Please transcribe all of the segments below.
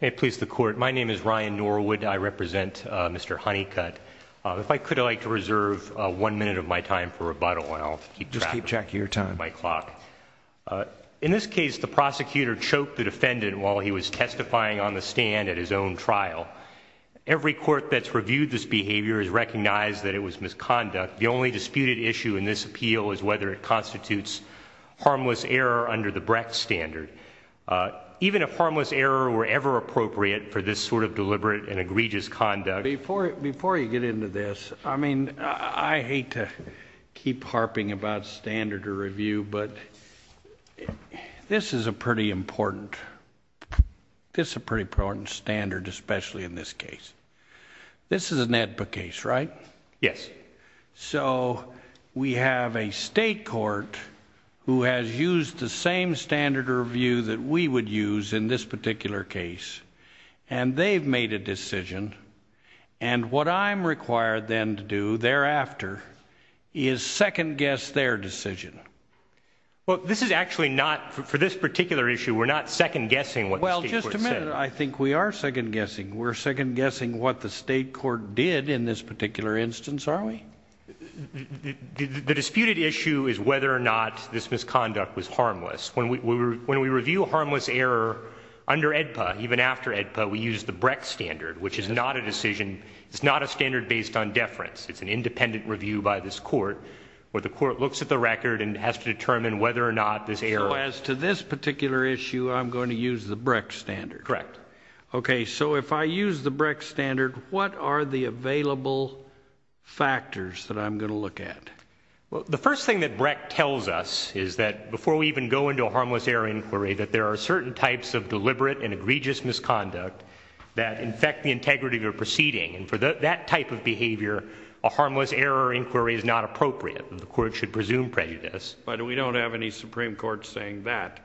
Hey, please the court. My name is Ryan Norwood. I represent Mr. Honeycutt. If I could, I'd like to reserve one minute of my time for rebuttal and I'll keep track of my clock. Just keep track of your time. In this case, the prosecutor choked the defendant while he was testifying on the stand at his own trial. Every court that's reviewed this behavior has recognized that it was misconduct. The only disputed issue in this appeal is whether it constitutes harmless error under the Brecht standard. Even if harmless error were ever appropriate for this sort of deliberate and egregious conduct. Before you get into this, I mean, I hate to keep harping about standard of review, but this is a pretty important standard, especially in this case. This is an AEDPA case, right? Yes. So, we have a state court who has used the same standard of review that we would use in this particular case. And they've made a decision, and what I'm required then to do thereafter is second-guess their decision. Well, this is actually not, for this particular issue, we're not second-guessing what the state court said. The disputed issue is whether or not this misconduct was harmless. When we review harmless error under AEDPA, even after AEDPA, we use the Brecht standard, which is not a decision, it's not a standard based on deference. It's an independent review by this court, where the court looks at the record and has to determine whether or not this error. So, as to this particular issue, I'm going to use the Brecht standard. Correct. Okay, so if I use the Brecht standard, what are the available factors that I'm going to look at? Well, the first thing that Brecht tells us is that before we even go into a harmless error inquiry, that there are certain types of deliberate and egregious misconduct that infect the integrity of your proceeding. And for that type of behavior, a harmless error inquiry is not appropriate, and the court should presume prejudice. But we don't have any Supreme Court saying that.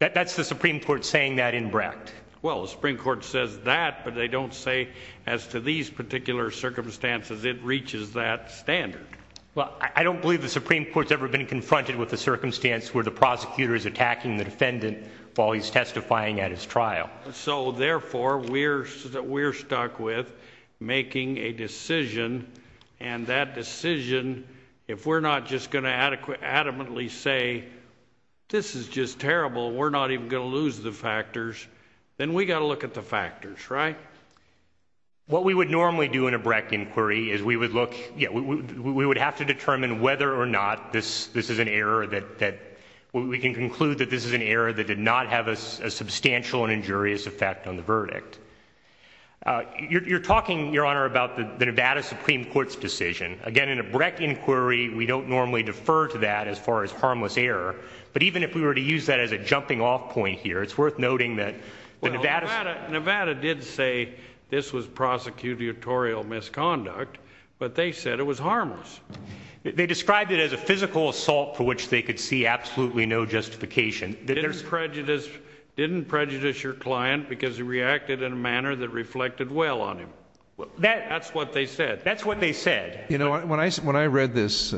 That's the Supreme Court saying that in Brecht. Well, the Supreme Court says that, but they don't say, as to these particular circumstances, it reaches that standard. Well, I don't believe the Supreme Court's ever been confronted with a circumstance where the prosecutor is attacking the defendant while he's testifying at his trial. So, therefore, we're stuck with making a decision, and that decision, if we're not just going to adamantly say, this is just terrible, we're not even going to lose the factors, then we've got to look at the factors, right? What we would normally do in a Brecht inquiry is we would have to determine whether or not this is an error that we can conclude that this is an error that did not have a substantial and injurious effect on the verdict. You're talking, Your Honor, about the Nevada Supreme Court's decision. Again, in a Brecht inquiry, we don't normally defer to that as far as harmless error, but even if we were to use that as a jumping-off point here, it's worth noting that the Nevada… Well, Nevada did say this was prosecutorial misconduct, but they said it was harmless. They described it as a physical assault for which they could see absolutely no justification. Didn't prejudice your client because he reacted in a manner that reflected well on him. That's what they said. You know, when I read this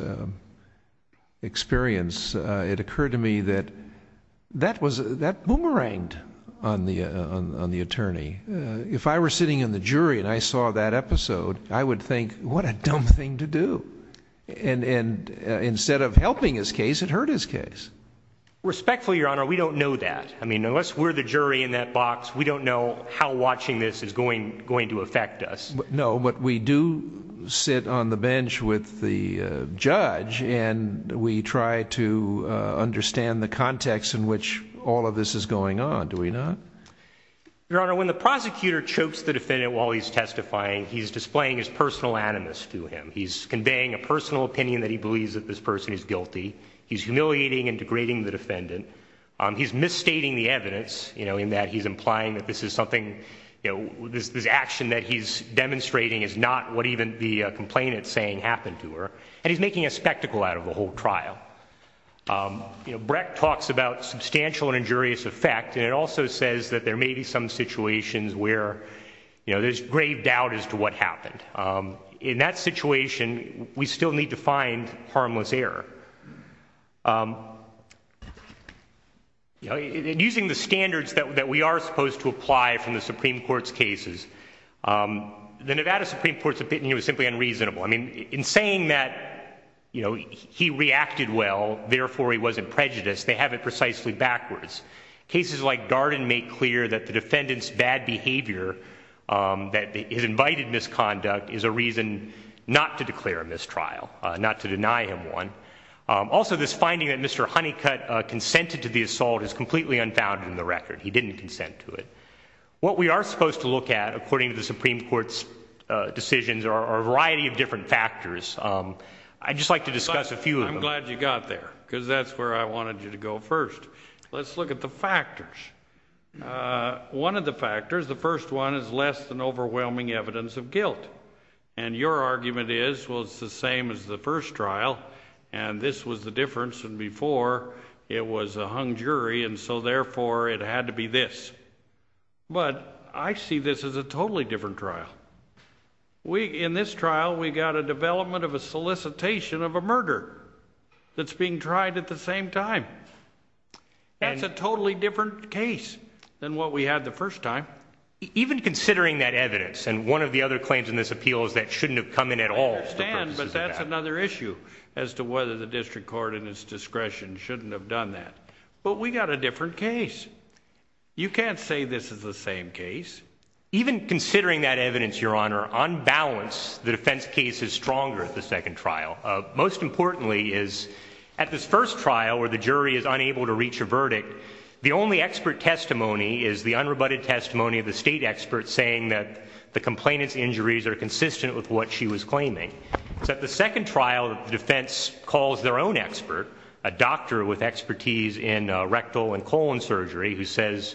experience, it occurred to me that that boomeranged on the attorney. If I were sitting in the jury and I saw that episode, I would think, what a dumb thing to do. And instead of helping his case, it hurt his case. Respectfully, Your Honor, we don't know that. I mean, unless we're the jury in that box, we don't know how watching this is going to affect us. No, but we do sit on the bench with the judge and we try to understand the context in which all of this is going on, do we not? Your Honor, when the prosecutor chokes the defendant while he's testifying, he's displaying his personal animus to him. He's conveying a personal opinion that he believes that this person is guilty. He's humiliating and degrading the defendant. He's misstating the evidence, you know, in that he's implying that this is something, you know, this action that he's demonstrating is not what even the complainant's saying happened to her. And he's making a spectacle out of the whole trial. You know, Brecht talks about substantial and injurious effect, and it also says that there may be some situations where, you know, there's grave doubt as to what happened. In that situation, we still need to find harmless error. Using the standards that we are supposed to apply from the Supreme Court's cases, the Nevada Supreme Court's opinion was simply unreasonable. I mean, in saying that, you know, he reacted well, therefore he wasn't prejudiced, they have it precisely backwards. Cases like Garden make clear that the defendant's bad behavior, that his invited misconduct, is a reason not to declare a mistrial, not to deny him one. Also, this finding that Mr. Honeycutt consented to the assault is completely unfounded in the record. He didn't consent to it. What we are supposed to look at, according to the Supreme Court's decisions, are a variety of different factors. I'd just like to discuss a few of them. I'm glad you got there, because that's where I wanted you to go first. Let's look at the factors. One of the factors, the first one, is less than overwhelming evidence of guilt. And your argument is, well, it's the same as the first trial, and this was the difference, and before it was a hung jury, and so therefore it had to be this. But I see this as a totally different trial. In this trial, we got a development of a solicitation of a murder that's being tried at the same time. That's a totally different case than what we had the first time. Even considering that evidence, and one of the other claims in this appeal is that shouldn't have come in at all. I understand, but that's another issue as to whether the district court, in its discretion, shouldn't have done that. But we got a different case. You can't say this is the same case. Even considering that evidence, Your Honor, on balance, the defense case is stronger at the second trial. Most importantly is, at this first trial where the jury is unable to reach a verdict, the only expert testimony is the unrebutted testimony of the state expert saying that the complainant's injuries are consistent with what she was claiming. So at the second trial, the defense calls their own expert, a doctor with expertise in rectal and colon surgery, who says,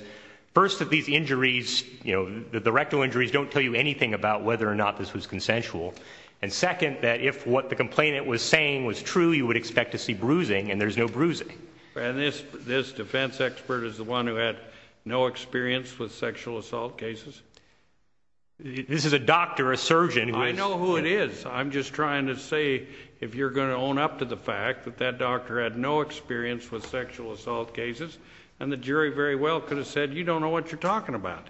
first, that these injuries, you know, that the rectal injuries don't tell you anything about whether or not this was consensual. And second, that if what the complainant was saying was true, you would expect to see bruising, and there's no bruising. And this defense expert is the one who had no experience with sexual assault cases? This is a doctor, a surgeon. I know who it is. I'm just trying to say, if you're going to own up to the fact that that doctor had no experience with sexual assault cases, then the jury very well could have said, you don't know what you're talking about.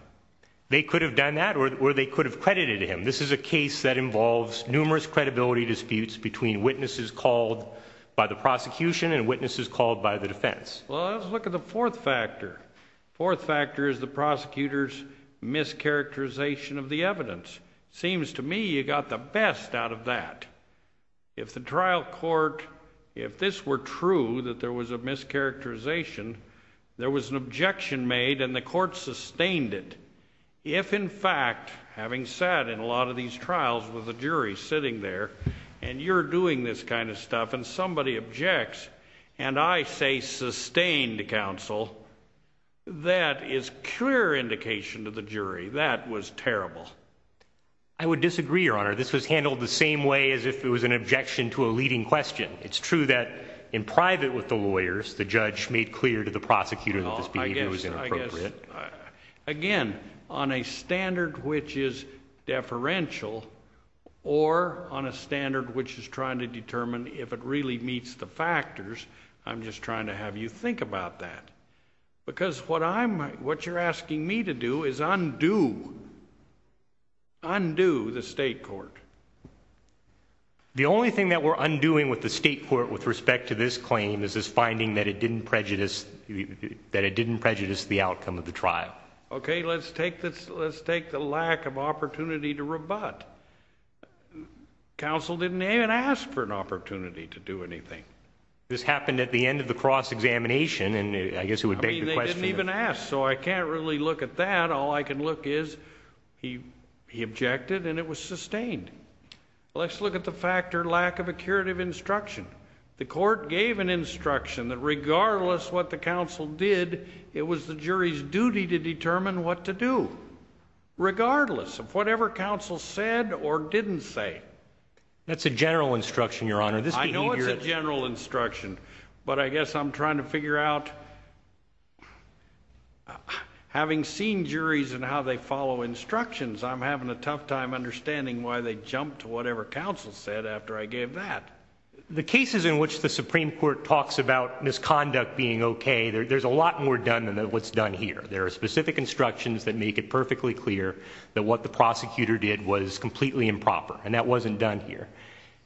They could have done that, or they could have credited him. This is a case that involves numerous credibility disputes between witnesses called by the prosecution and witnesses called by the defense. Well, let's look at the fourth factor. Fourth factor is the prosecutor's mischaracterization of the evidence. Seems to me you got the best out of that. If the trial court, if this were true, that there was a mischaracterization, there was an objection made, and the court sustained it. If, in fact, having sat in a lot of these trials with a jury sitting there, and you're doing this kind of stuff, and somebody objects, and I say sustained counsel, that is clear indication to the jury that was terrible. I would disagree, Your Honor. This was handled the same way as if it was an objection to a leading question. It's true that in private with the lawyers, the judge made clear to the prosecutor that this behavior was inappropriate. Again, on a standard which is deferential, or on a standard which is trying to determine if it really meets the factors, I'm just trying to have you think about that. Because what you're asking me to do is undo the state court. The only thing that we're undoing with the state court with respect to this claim is this finding that it didn't prejudice the outcome of the trial. Okay, let's take the lack of opportunity to rebut. Counsel didn't even ask for an opportunity to do anything. This happened at the end of the cross-examination, and I guess who would beg the question? I mean, they didn't even ask, so I can't really look at that. All I can look is he objected, and it was sustained. Let's look at the factor lack of a curative instruction. The court gave an instruction that regardless what the counsel did, it was the jury's duty to determine what to do, regardless of whatever counsel said or didn't say. That's a general instruction, Your Honor. I know it's a general instruction, but I guess I'm trying to figure out, having seen juries and how they follow instructions, I'm having a tough time understanding why they jumped to whatever counsel said after I gave that. The cases in which the Supreme Court talks about misconduct being okay, there's a lot more done than what's done here. There are specific instructions that make it perfectly clear that what the prosecutor did was completely improper, and that wasn't done here.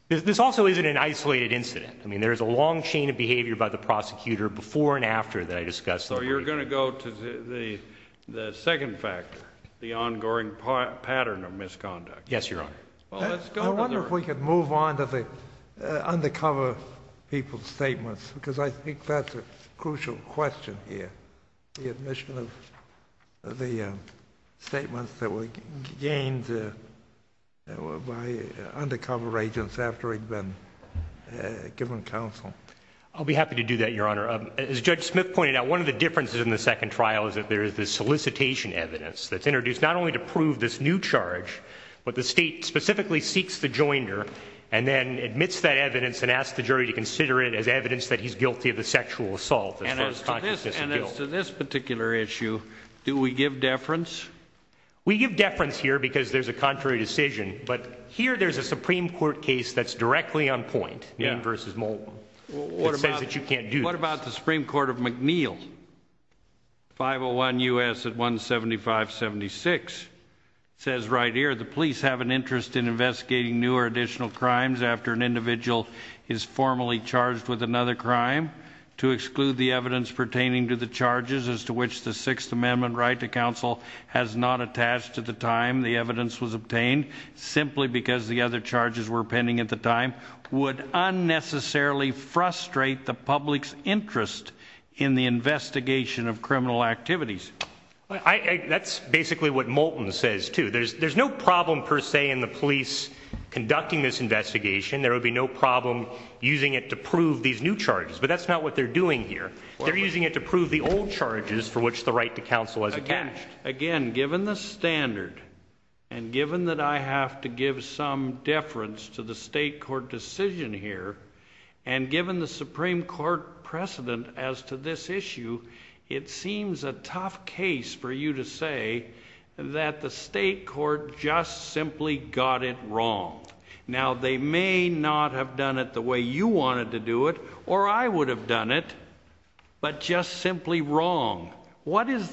This also isn't an isolated incident. I mean, there's a long chain of behavior by the prosecutor before and after that I discussed. So you're going to go to the second factor, the ongoing pattern of misconduct. Yes, Your Honor. I wonder if we could move on to the undercover people's statements, because I think that's a crucial question here, the admission of the statements that were gained by undercover agents after he'd been given counsel. I'll be happy to do that, Your Honor. As Judge Smith pointed out, one of the differences in the second trial is that there is this solicitation evidence that's introduced not only to prove this new charge, but the state specifically seeks the joinder and then admits that evidence and asks the jury to consider it as evidence that he's guilty of the sexual assault. And as to this particular issue, do we give deference? We give deference here because there's a contrary decision, but here there's a Supreme Court case that's directly on point, Mead v. Moulton, that says that you can't do this. What about the Supreme Court of McNeil, 501 U.S. 17576? It says right here, the police have an interest in investigating new or additional crimes after an individual is formally charged with another crime to exclude the evidence pertaining to the charges as to which the Sixth Amendment right to counsel has not attached to the time the evidence was obtained simply because the other charges were pending at the time, would unnecessarily frustrate the public's interest in the investigation of criminal activities. That's basically what Moulton says, too. There's no problem, per se, in the police conducting this investigation. There would be no problem using it to prove these new charges, but that's not what they're doing here. They're using it to prove the old charges for which the right to counsel has attached. Again, given the standard and given that I have to give some deference to the state court decision here and given the Supreme Court precedent as to this issue, it seems a tough case for you to say that the state court just simply got it wrong. Now, they may not have done it the way you wanted to do it, or I would have done it, but just simply wrong. Where is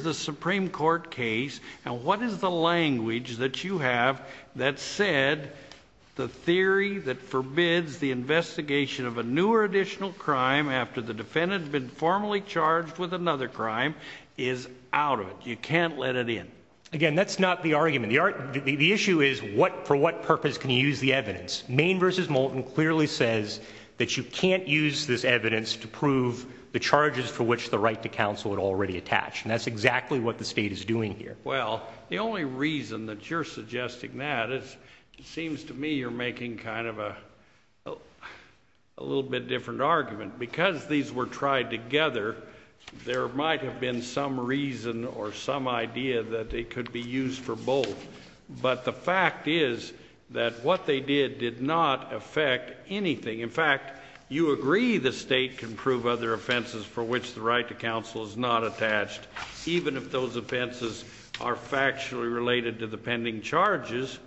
the Supreme Court case and what is the language that you have that said the theory that forbids the investigation of a new or additional crime after the defendant had been formally charged with another crime is out of it? You can't let it in. Again, that's not the argument. The issue is for what purpose can you use the evidence? Maine v. Moulton clearly says that you can't use this evidence to prove the charges for which the right to counsel had already attached, and that's exactly what the state is doing here. Well, the only reason that you're suggesting that is it seems to me you're making kind of a little bit different argument. Because these were tried together, there might have been some reason or some idea that they could be used for both, but the fact is that what they did did not affect anything. In fact, you agree the state can prove other offenses for which the right to counsel is not attached, even if those offenses are factually related to the pending charges.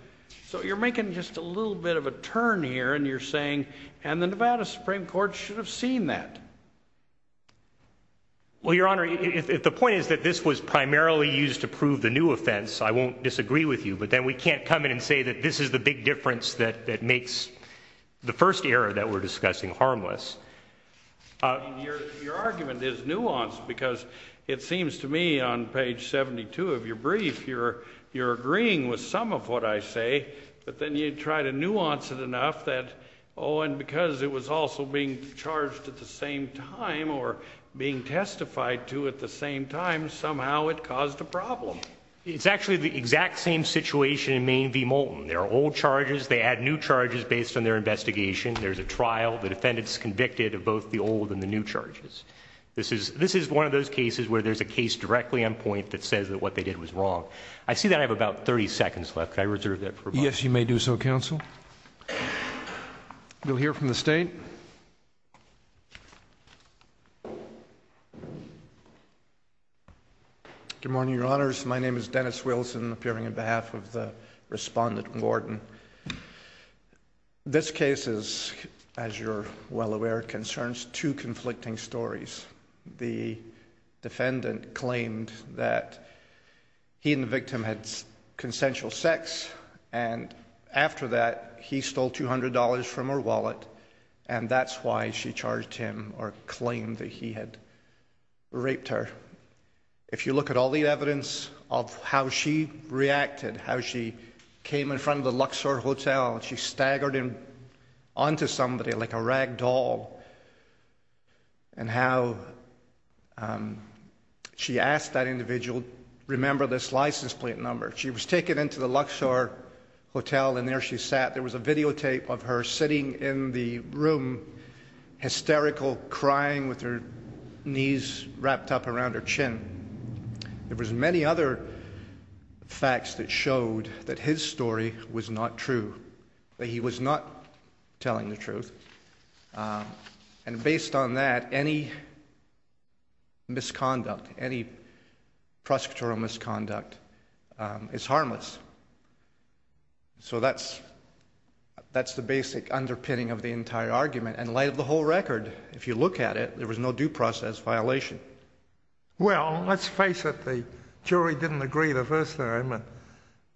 So you're making just a little bit of a turn here, and you're saying, and the Nevada Supreme Court should have seen that. Well, Your Honor, the point is that this was primarily used to prove the new offense. I won't disagree with you, but then we can't come in and say that this is the big difference that makes the first error that we're discussing harmless. Your argument is nuanced, because it seems to me on page 72 of your brief you're agreeing with some of what I say, but then you try to nuance it enough that, oh, and because it was also being charged at the same time or being testified to at the same time, somehow it caused a problem. It's actually the exact same situation in Maine v. Moulton. There are old charges, they add new charges based on their investigation. There's a trial. The defendant's convicted of both the old and the new charges. This is one of those cases where there's a case directly on point that says that what they did was wrong. I see that I have about 30 seconds left. Could I reserve that for a moment? Yes, you may do so, counsel. We'll hear from the State. Good morning, Your Honors. My name is Dennis Wilson, appearing on behalf of the respondent, Gordon. This case is, as you're well aware, concerns two conflicting stories. The defendant claimed that he and the victim had consensual sex, and after that he stole $200 from her wallet, and that's why she charged him or claimed that he had raped her. If you look at all the evidence of how she reacted, how she came in front of the Luxor Hotel, and she staggered onto somebody like a rag doll, and how she asked that individual, remember this license plate number. She was taken into the Luxor Hotel, and there she sat. There was a videotape of her sitting in the room, hysterical, crying with her knees wrapped up around her chin. There was many other facts that showed that his story was not true, that he was not telling the truth. And based on that, any misconduct, any prosecutorial misconduct is harmless. So that's the basic underpinning of the entire argument. And light of the whole record, if you look at it, there was no due process violation. Well, let's face it, the jury didn't agree the first time.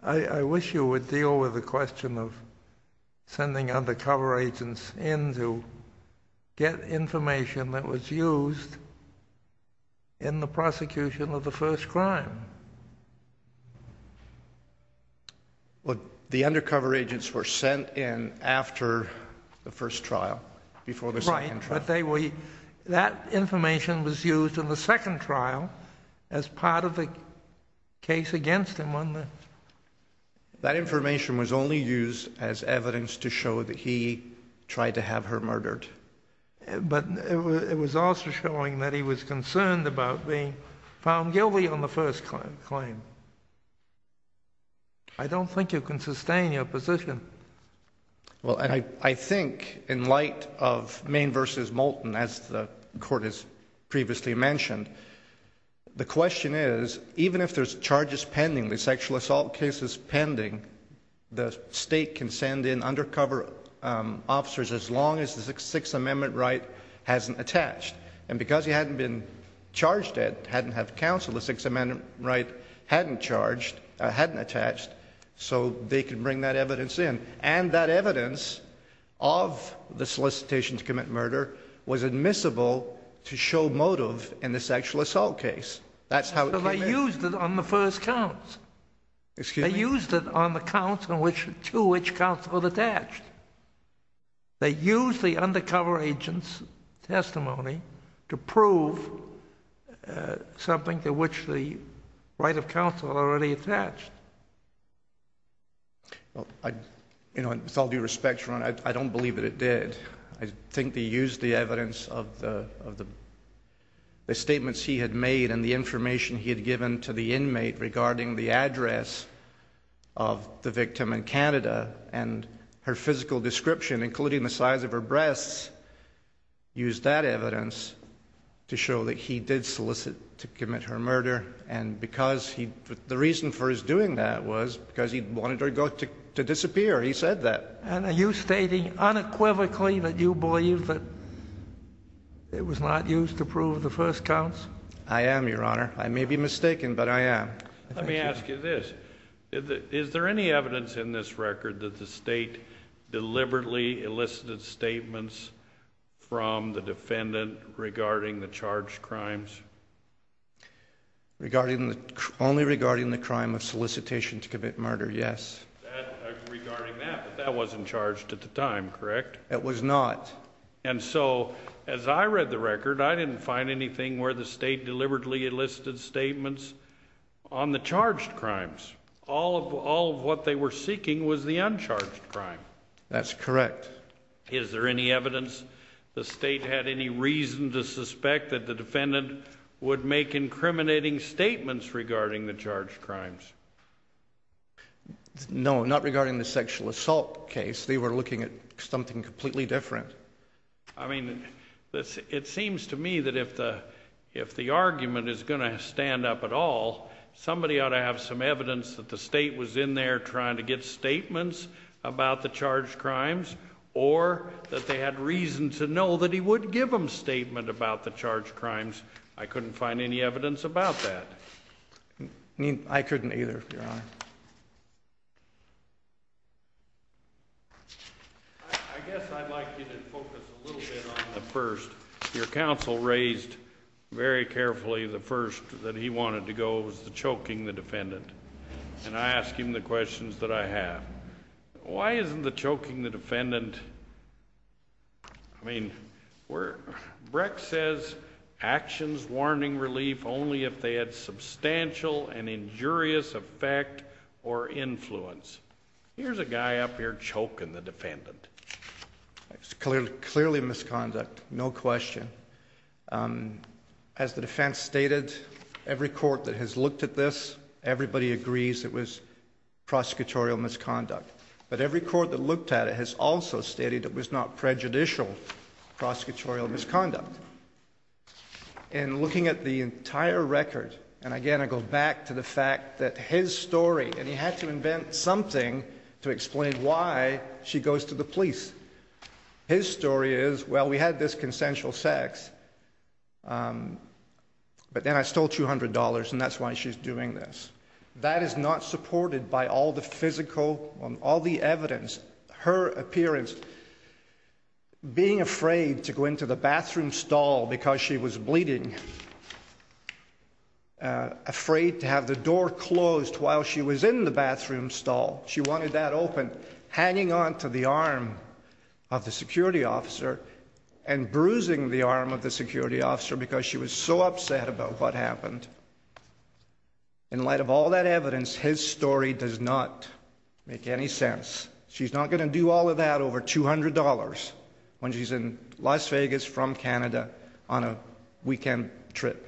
I wish you would deal with the question of sending undercover agents in to get information that was used in the prosecution of the first crime. The undercover agents were sent in after the first trial, before the second trial. Right, but that information was used in the second trial as part of the case against him. That information was only used as evidence to show that he tried to have her murdered. But it was also showing that he was concerned about being found guilty on the first claim. I don't think you can sustain your position. Well, and I think in light of Maine v. Moulton, as the Court has previously mentioned, the question is, even if there's charges pending, the sexual assault case is pending, the state can send in undercover officers as long as the Sixth Amendment right hasn't attached. And because he hadn't been charged yet, hadn't had counsel, the Sixth Amendment right hadn't charged, hadn't attached, so they could bring that evidence in. And that evidence of the solicitation to commit murder was admissible to show motive in the sexual assault case. That's how it came in. But they used it on the first counts. Excuse me? They used it on the counts to which counsel was attached. They used the undercover agent's testimony to prove something to which the right of counsel already attached. Well, you know, with all due respect, Your Honor, I don't believe that it did. I think they used the evidence of the statements he had made and the information he had given to the inmate regarding the address of the victim in Canada and her physical description, including the size of her breasts, used that evidence to show that he did solicit to commit her murder. And because he—the reason for his doing that was because he wanted her to disappear. He said that. And are you stating unequivocally that you believe that it was not used to prove the first counts? I am, Your Honor. I may be mistaken, but I am. Let me ask you this. Is there any evidence in this record that the State deliberately elicited statements from the defendant regarding the charged crimes? Regarding the—only regarding the crime of solicitation to commit murder, yes. Regarding that, but that wasn't charged at the time, correct? That was not. And so, as I read the record, I didn't find anything where the State deliberately elicited statements on the charged crimes. All of what they were seeking was the uncharged crime. That's correct. Is there any evidence the State had any reason to suspect that the defendant would make incriminating statements regarding the charged crimes? No, not regarding the sexual assault case. They were looking at something completely different. I mean, it seems to me that if the argument is going to stand up at all, somebody ought to have some evidence that the State was in there trying to get statements about the charged crimes or that they had reason to know that he would give them statements about the charged crimes. I couldn't find any evidence about that. I couldn't either, Your Honor. I guess I'd like you to focus a little bit on the first. Your counsel raised very carefully the first that he wanted to go was the choking the defendant. And I ask him the questions that I have. Why isn't the choking the defendant—I mean, we're— Brecht says actions warning relief only if they had substantial and injurious effect or influence. Here's a guy up here choking the defendant. It's clearly misconduct, no question. As the defense stated, every court that has looked at this, everybody agrees it was prosecutorial misconduct. But every court that looked at it has also stated it was not prejudicial prosecutorial misconduct. In looking at the entire record, and again I go back to the fact that his story— and he had to invent something to explain why she goes to the police. His story is, well, we had this consensual sex, but then I stole $200 and that's why she's doing this. That is not supported by all the physical, all the evidence. Her appearance, being afraid to go into the bathroom stall because she was bleeding. Afraid to have the door closed while she was in the bathroom stall. She wanted that open, hanging on to the arm of the security officer and bruising the arm of the security officer because she was so upset about what happened. In light of all that evidence, his story does not make any sense. She's not going to do all of that over $200 when she's in Las Vegas from Canada on a weekend trip.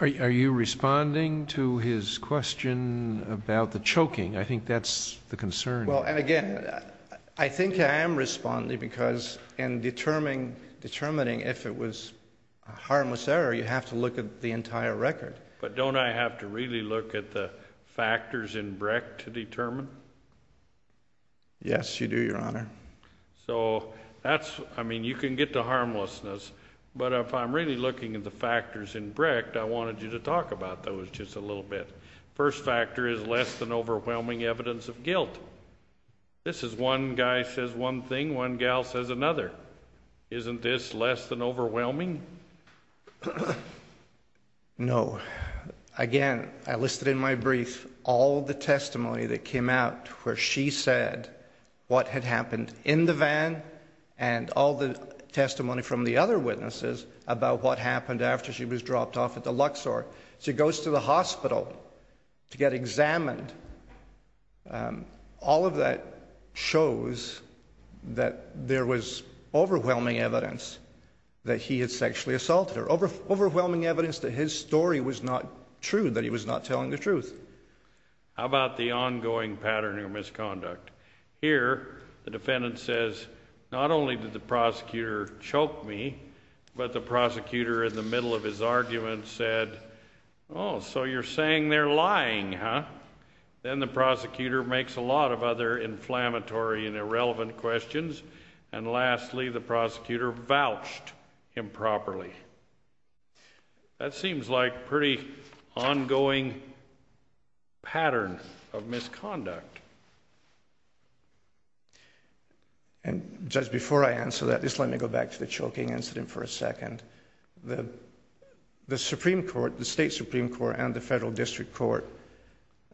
Are you responding to his question about the choking? I think that's the concern. Well, and again, I think I am responding because in determining if it was a harmless error, you have to look at the entire record. But don't I have to really look at the factors in Brecht to determine? Yes, you do, Your Honor. So that's, I mean, you can get to harmlessness, but if I'm really looking at the factors in Brecht, I wanted you to talk about those just a little bit. First factor is less than overwhelming evidence of guilt. This is one guy says one thing, one gal says another. Isn't this less than overwhelming? No. Again, I listed in my brief all the testimony that came out where she said what had happened in the van and all the testimony from the other witnesses about what happened after she was dropped off at the Luxor. She goes to the hospital to get examined. All of that shows that there was overwhelming evidence that he had sexually assaulted her, overwhelming evidence that his story was not true, that he was not telling the truth. How about the ongoing pattern of misconduct? Here, the defendant says not only did the prosecutor choke me, but the prosecutor in the middle of his argument said, Oh, so you're saying they're lying, huh? Then the prosecutor makes a lot of other inflammatory and irrelevant questions, and lastly, the prosecutor vouched improperly. That seems like a pretty ongoing pattern of misconduct. And just before I answer that, just let me go back to the choking incident for a second. The Supreme Court, the State Supreme Court, and the Federal District Court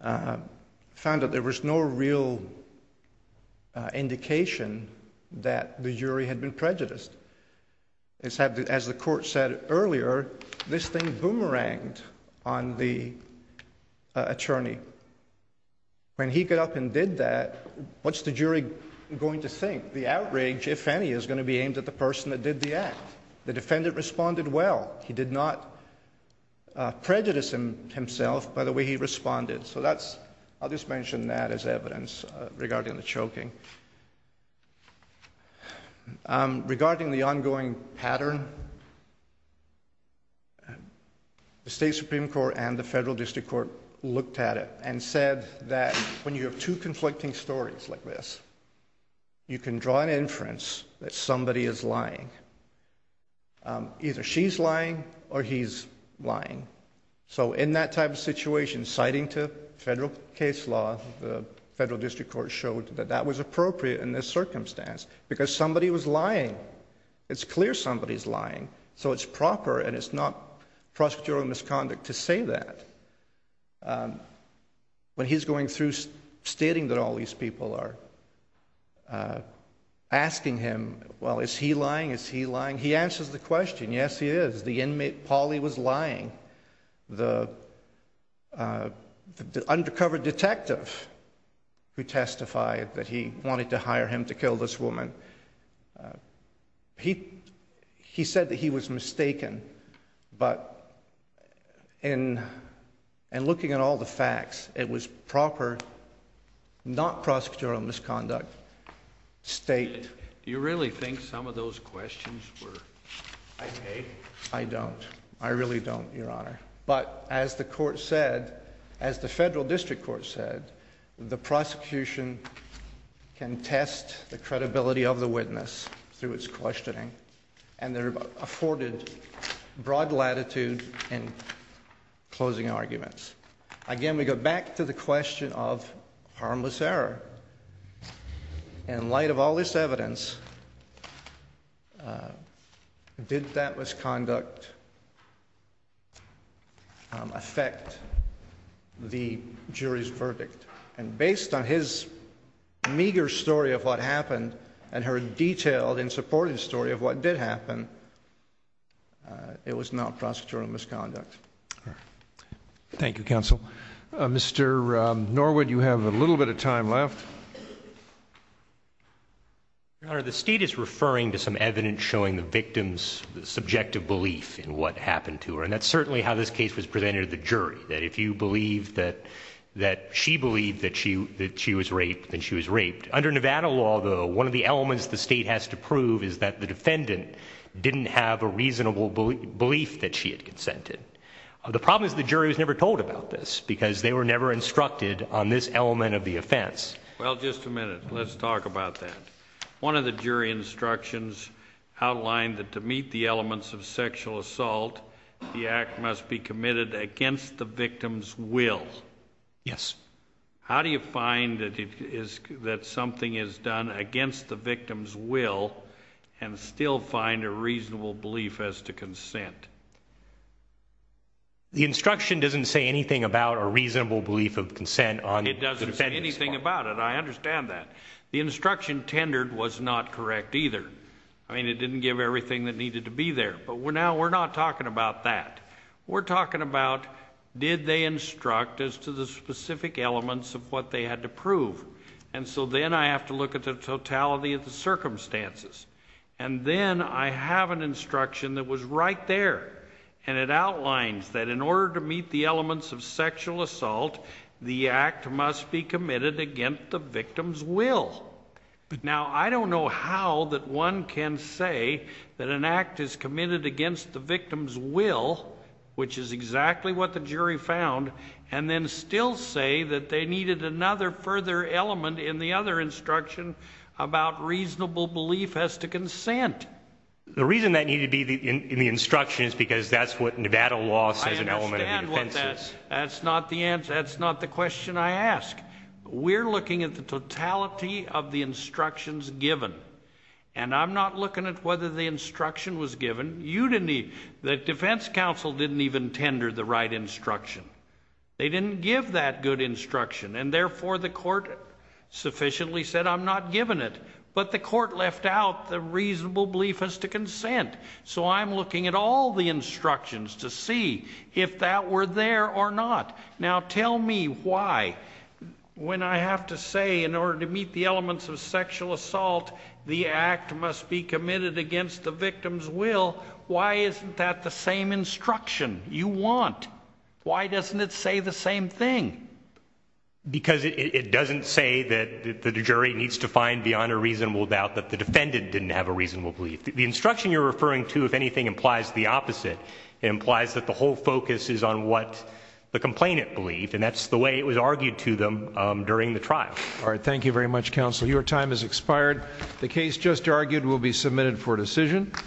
found that there was no real indication that the jury had been prejudiced. As the court said earlier, this thing boomeranged on the attorney. When he got up and did that, what's the jury going to think? The outrage, if any, is going to be aimed at the person that did the act. The defendant responded well. He did not prejudice himself by the way he responded. I'll just mention that as evidence regarding the choking. Regarding the ongoing pattern, the State Supreme Court and the Federal District Court looked at it and said that when you have two conflicting stories like this, you can draw an inference that somebody is lying. Either she's lying or he's lying. So in that type of situation, citing to federal case law, the Federal District Court showed that that was appropriate in this circumstance because somebody was lying. It's clear somebody's lying. So it's proper and it's not prosecutorial misconduct to say that. When he's going through stating that all these people are asking him, well, is he lying? Is he lying? He answers the question, yes, he is. The inmate, Polly, was lying. The undercover detective who testified that he wanted to hire him to kill this woman, he said that he was mistaken. But in looking at all the facts, it was proper, not prosecutorial misconduct, State. Do you really think some of those questions were okay? I don't. I really don't, Your Honor. But as the court said, as the Federal District Court said, the prosecution can test the credibility of the witness through its questioning and their afforded broad latitude in closing arguments. Again, we go back to the question of harmless error. In light of all this evidence, did that misconduct affect the jury's verdict? And based on his meager story of what happened and her detailed and supportive story of what did happen, it was not prosecutorial misconduct. Thank you, counsel. Mr. Norwood, you have a little bit of time left. Your Honor, the State is referring to some evidence showing the victim's subjective belief in what happened to her, and that's certainly how this case was presented to the jury, that if you believe that she believed that she was raped, then she was raped. Under Nevada law, though, one of the elements the State has to prove is that the defendant didn't have a reasonable belief that she had consented. The problem is the jury was never told about this, because they were never instructed on this element of the offense. Well, just a minute. Let's talk about that. One of the jury instructions outlined that to meet the elements of sexual assault, the act must be committed against the victim's will. Yes. How do you find that something is done against the victim's will and still find a reasonable belief as to consent? The instruction doesn't say anything about a reasonable belief of consent on the defendant's part. It doesn't say anything about it. I understand that. The instruction tendered was not correct either. I mean, it didn't give everything that needed to be there, but now we're not talking about that. We're talking about did they instruct as to the specific elements of what they had to prove, and so then I have to look at the totality of the circumstances. And then I have an instruction that was right there, and it outlines that in order to meet the elements of sexual assault, the act must be committed against the victim's will. Now, I don't know how that one can say that an act is committed against the victim's will, which is exactly what the jury found, and then still say that they needed another further element in the other instruction about reasonable belief as to consent. The reason that needed to be in the instruction is because that's what Nevada law says an element of the defense is. I understand what that is. That's not the answer. That's not the question I ask. We're looking at the totality of the instructions given, and I'm not looking at whether the instruction was given. The defense counsel didn't even tender the right instruction. They didn't give that good instruction, and therefore the court sufficiently said, I'm not giving it, but the court left out the reasonable belief as to consent, so I'm looking at all the instructions to see if that were there or not. Now, tell me why, when I have to say in order to meet the elements of sexual assault, the act must be committed against the victim's will, why isn't that the same instruction you want? Why doesn't it say the same thing? Because it doesn't say that the jury needs to find beyond a reasonable doubt that the defendant didn't have a reasonable belief. It implies that the whole focus is on what the complainant believed, and that's the way it was argued to them during the trial. All right, thank you very much, counsel. Your time has expired. The case just argued will be submitted for decision.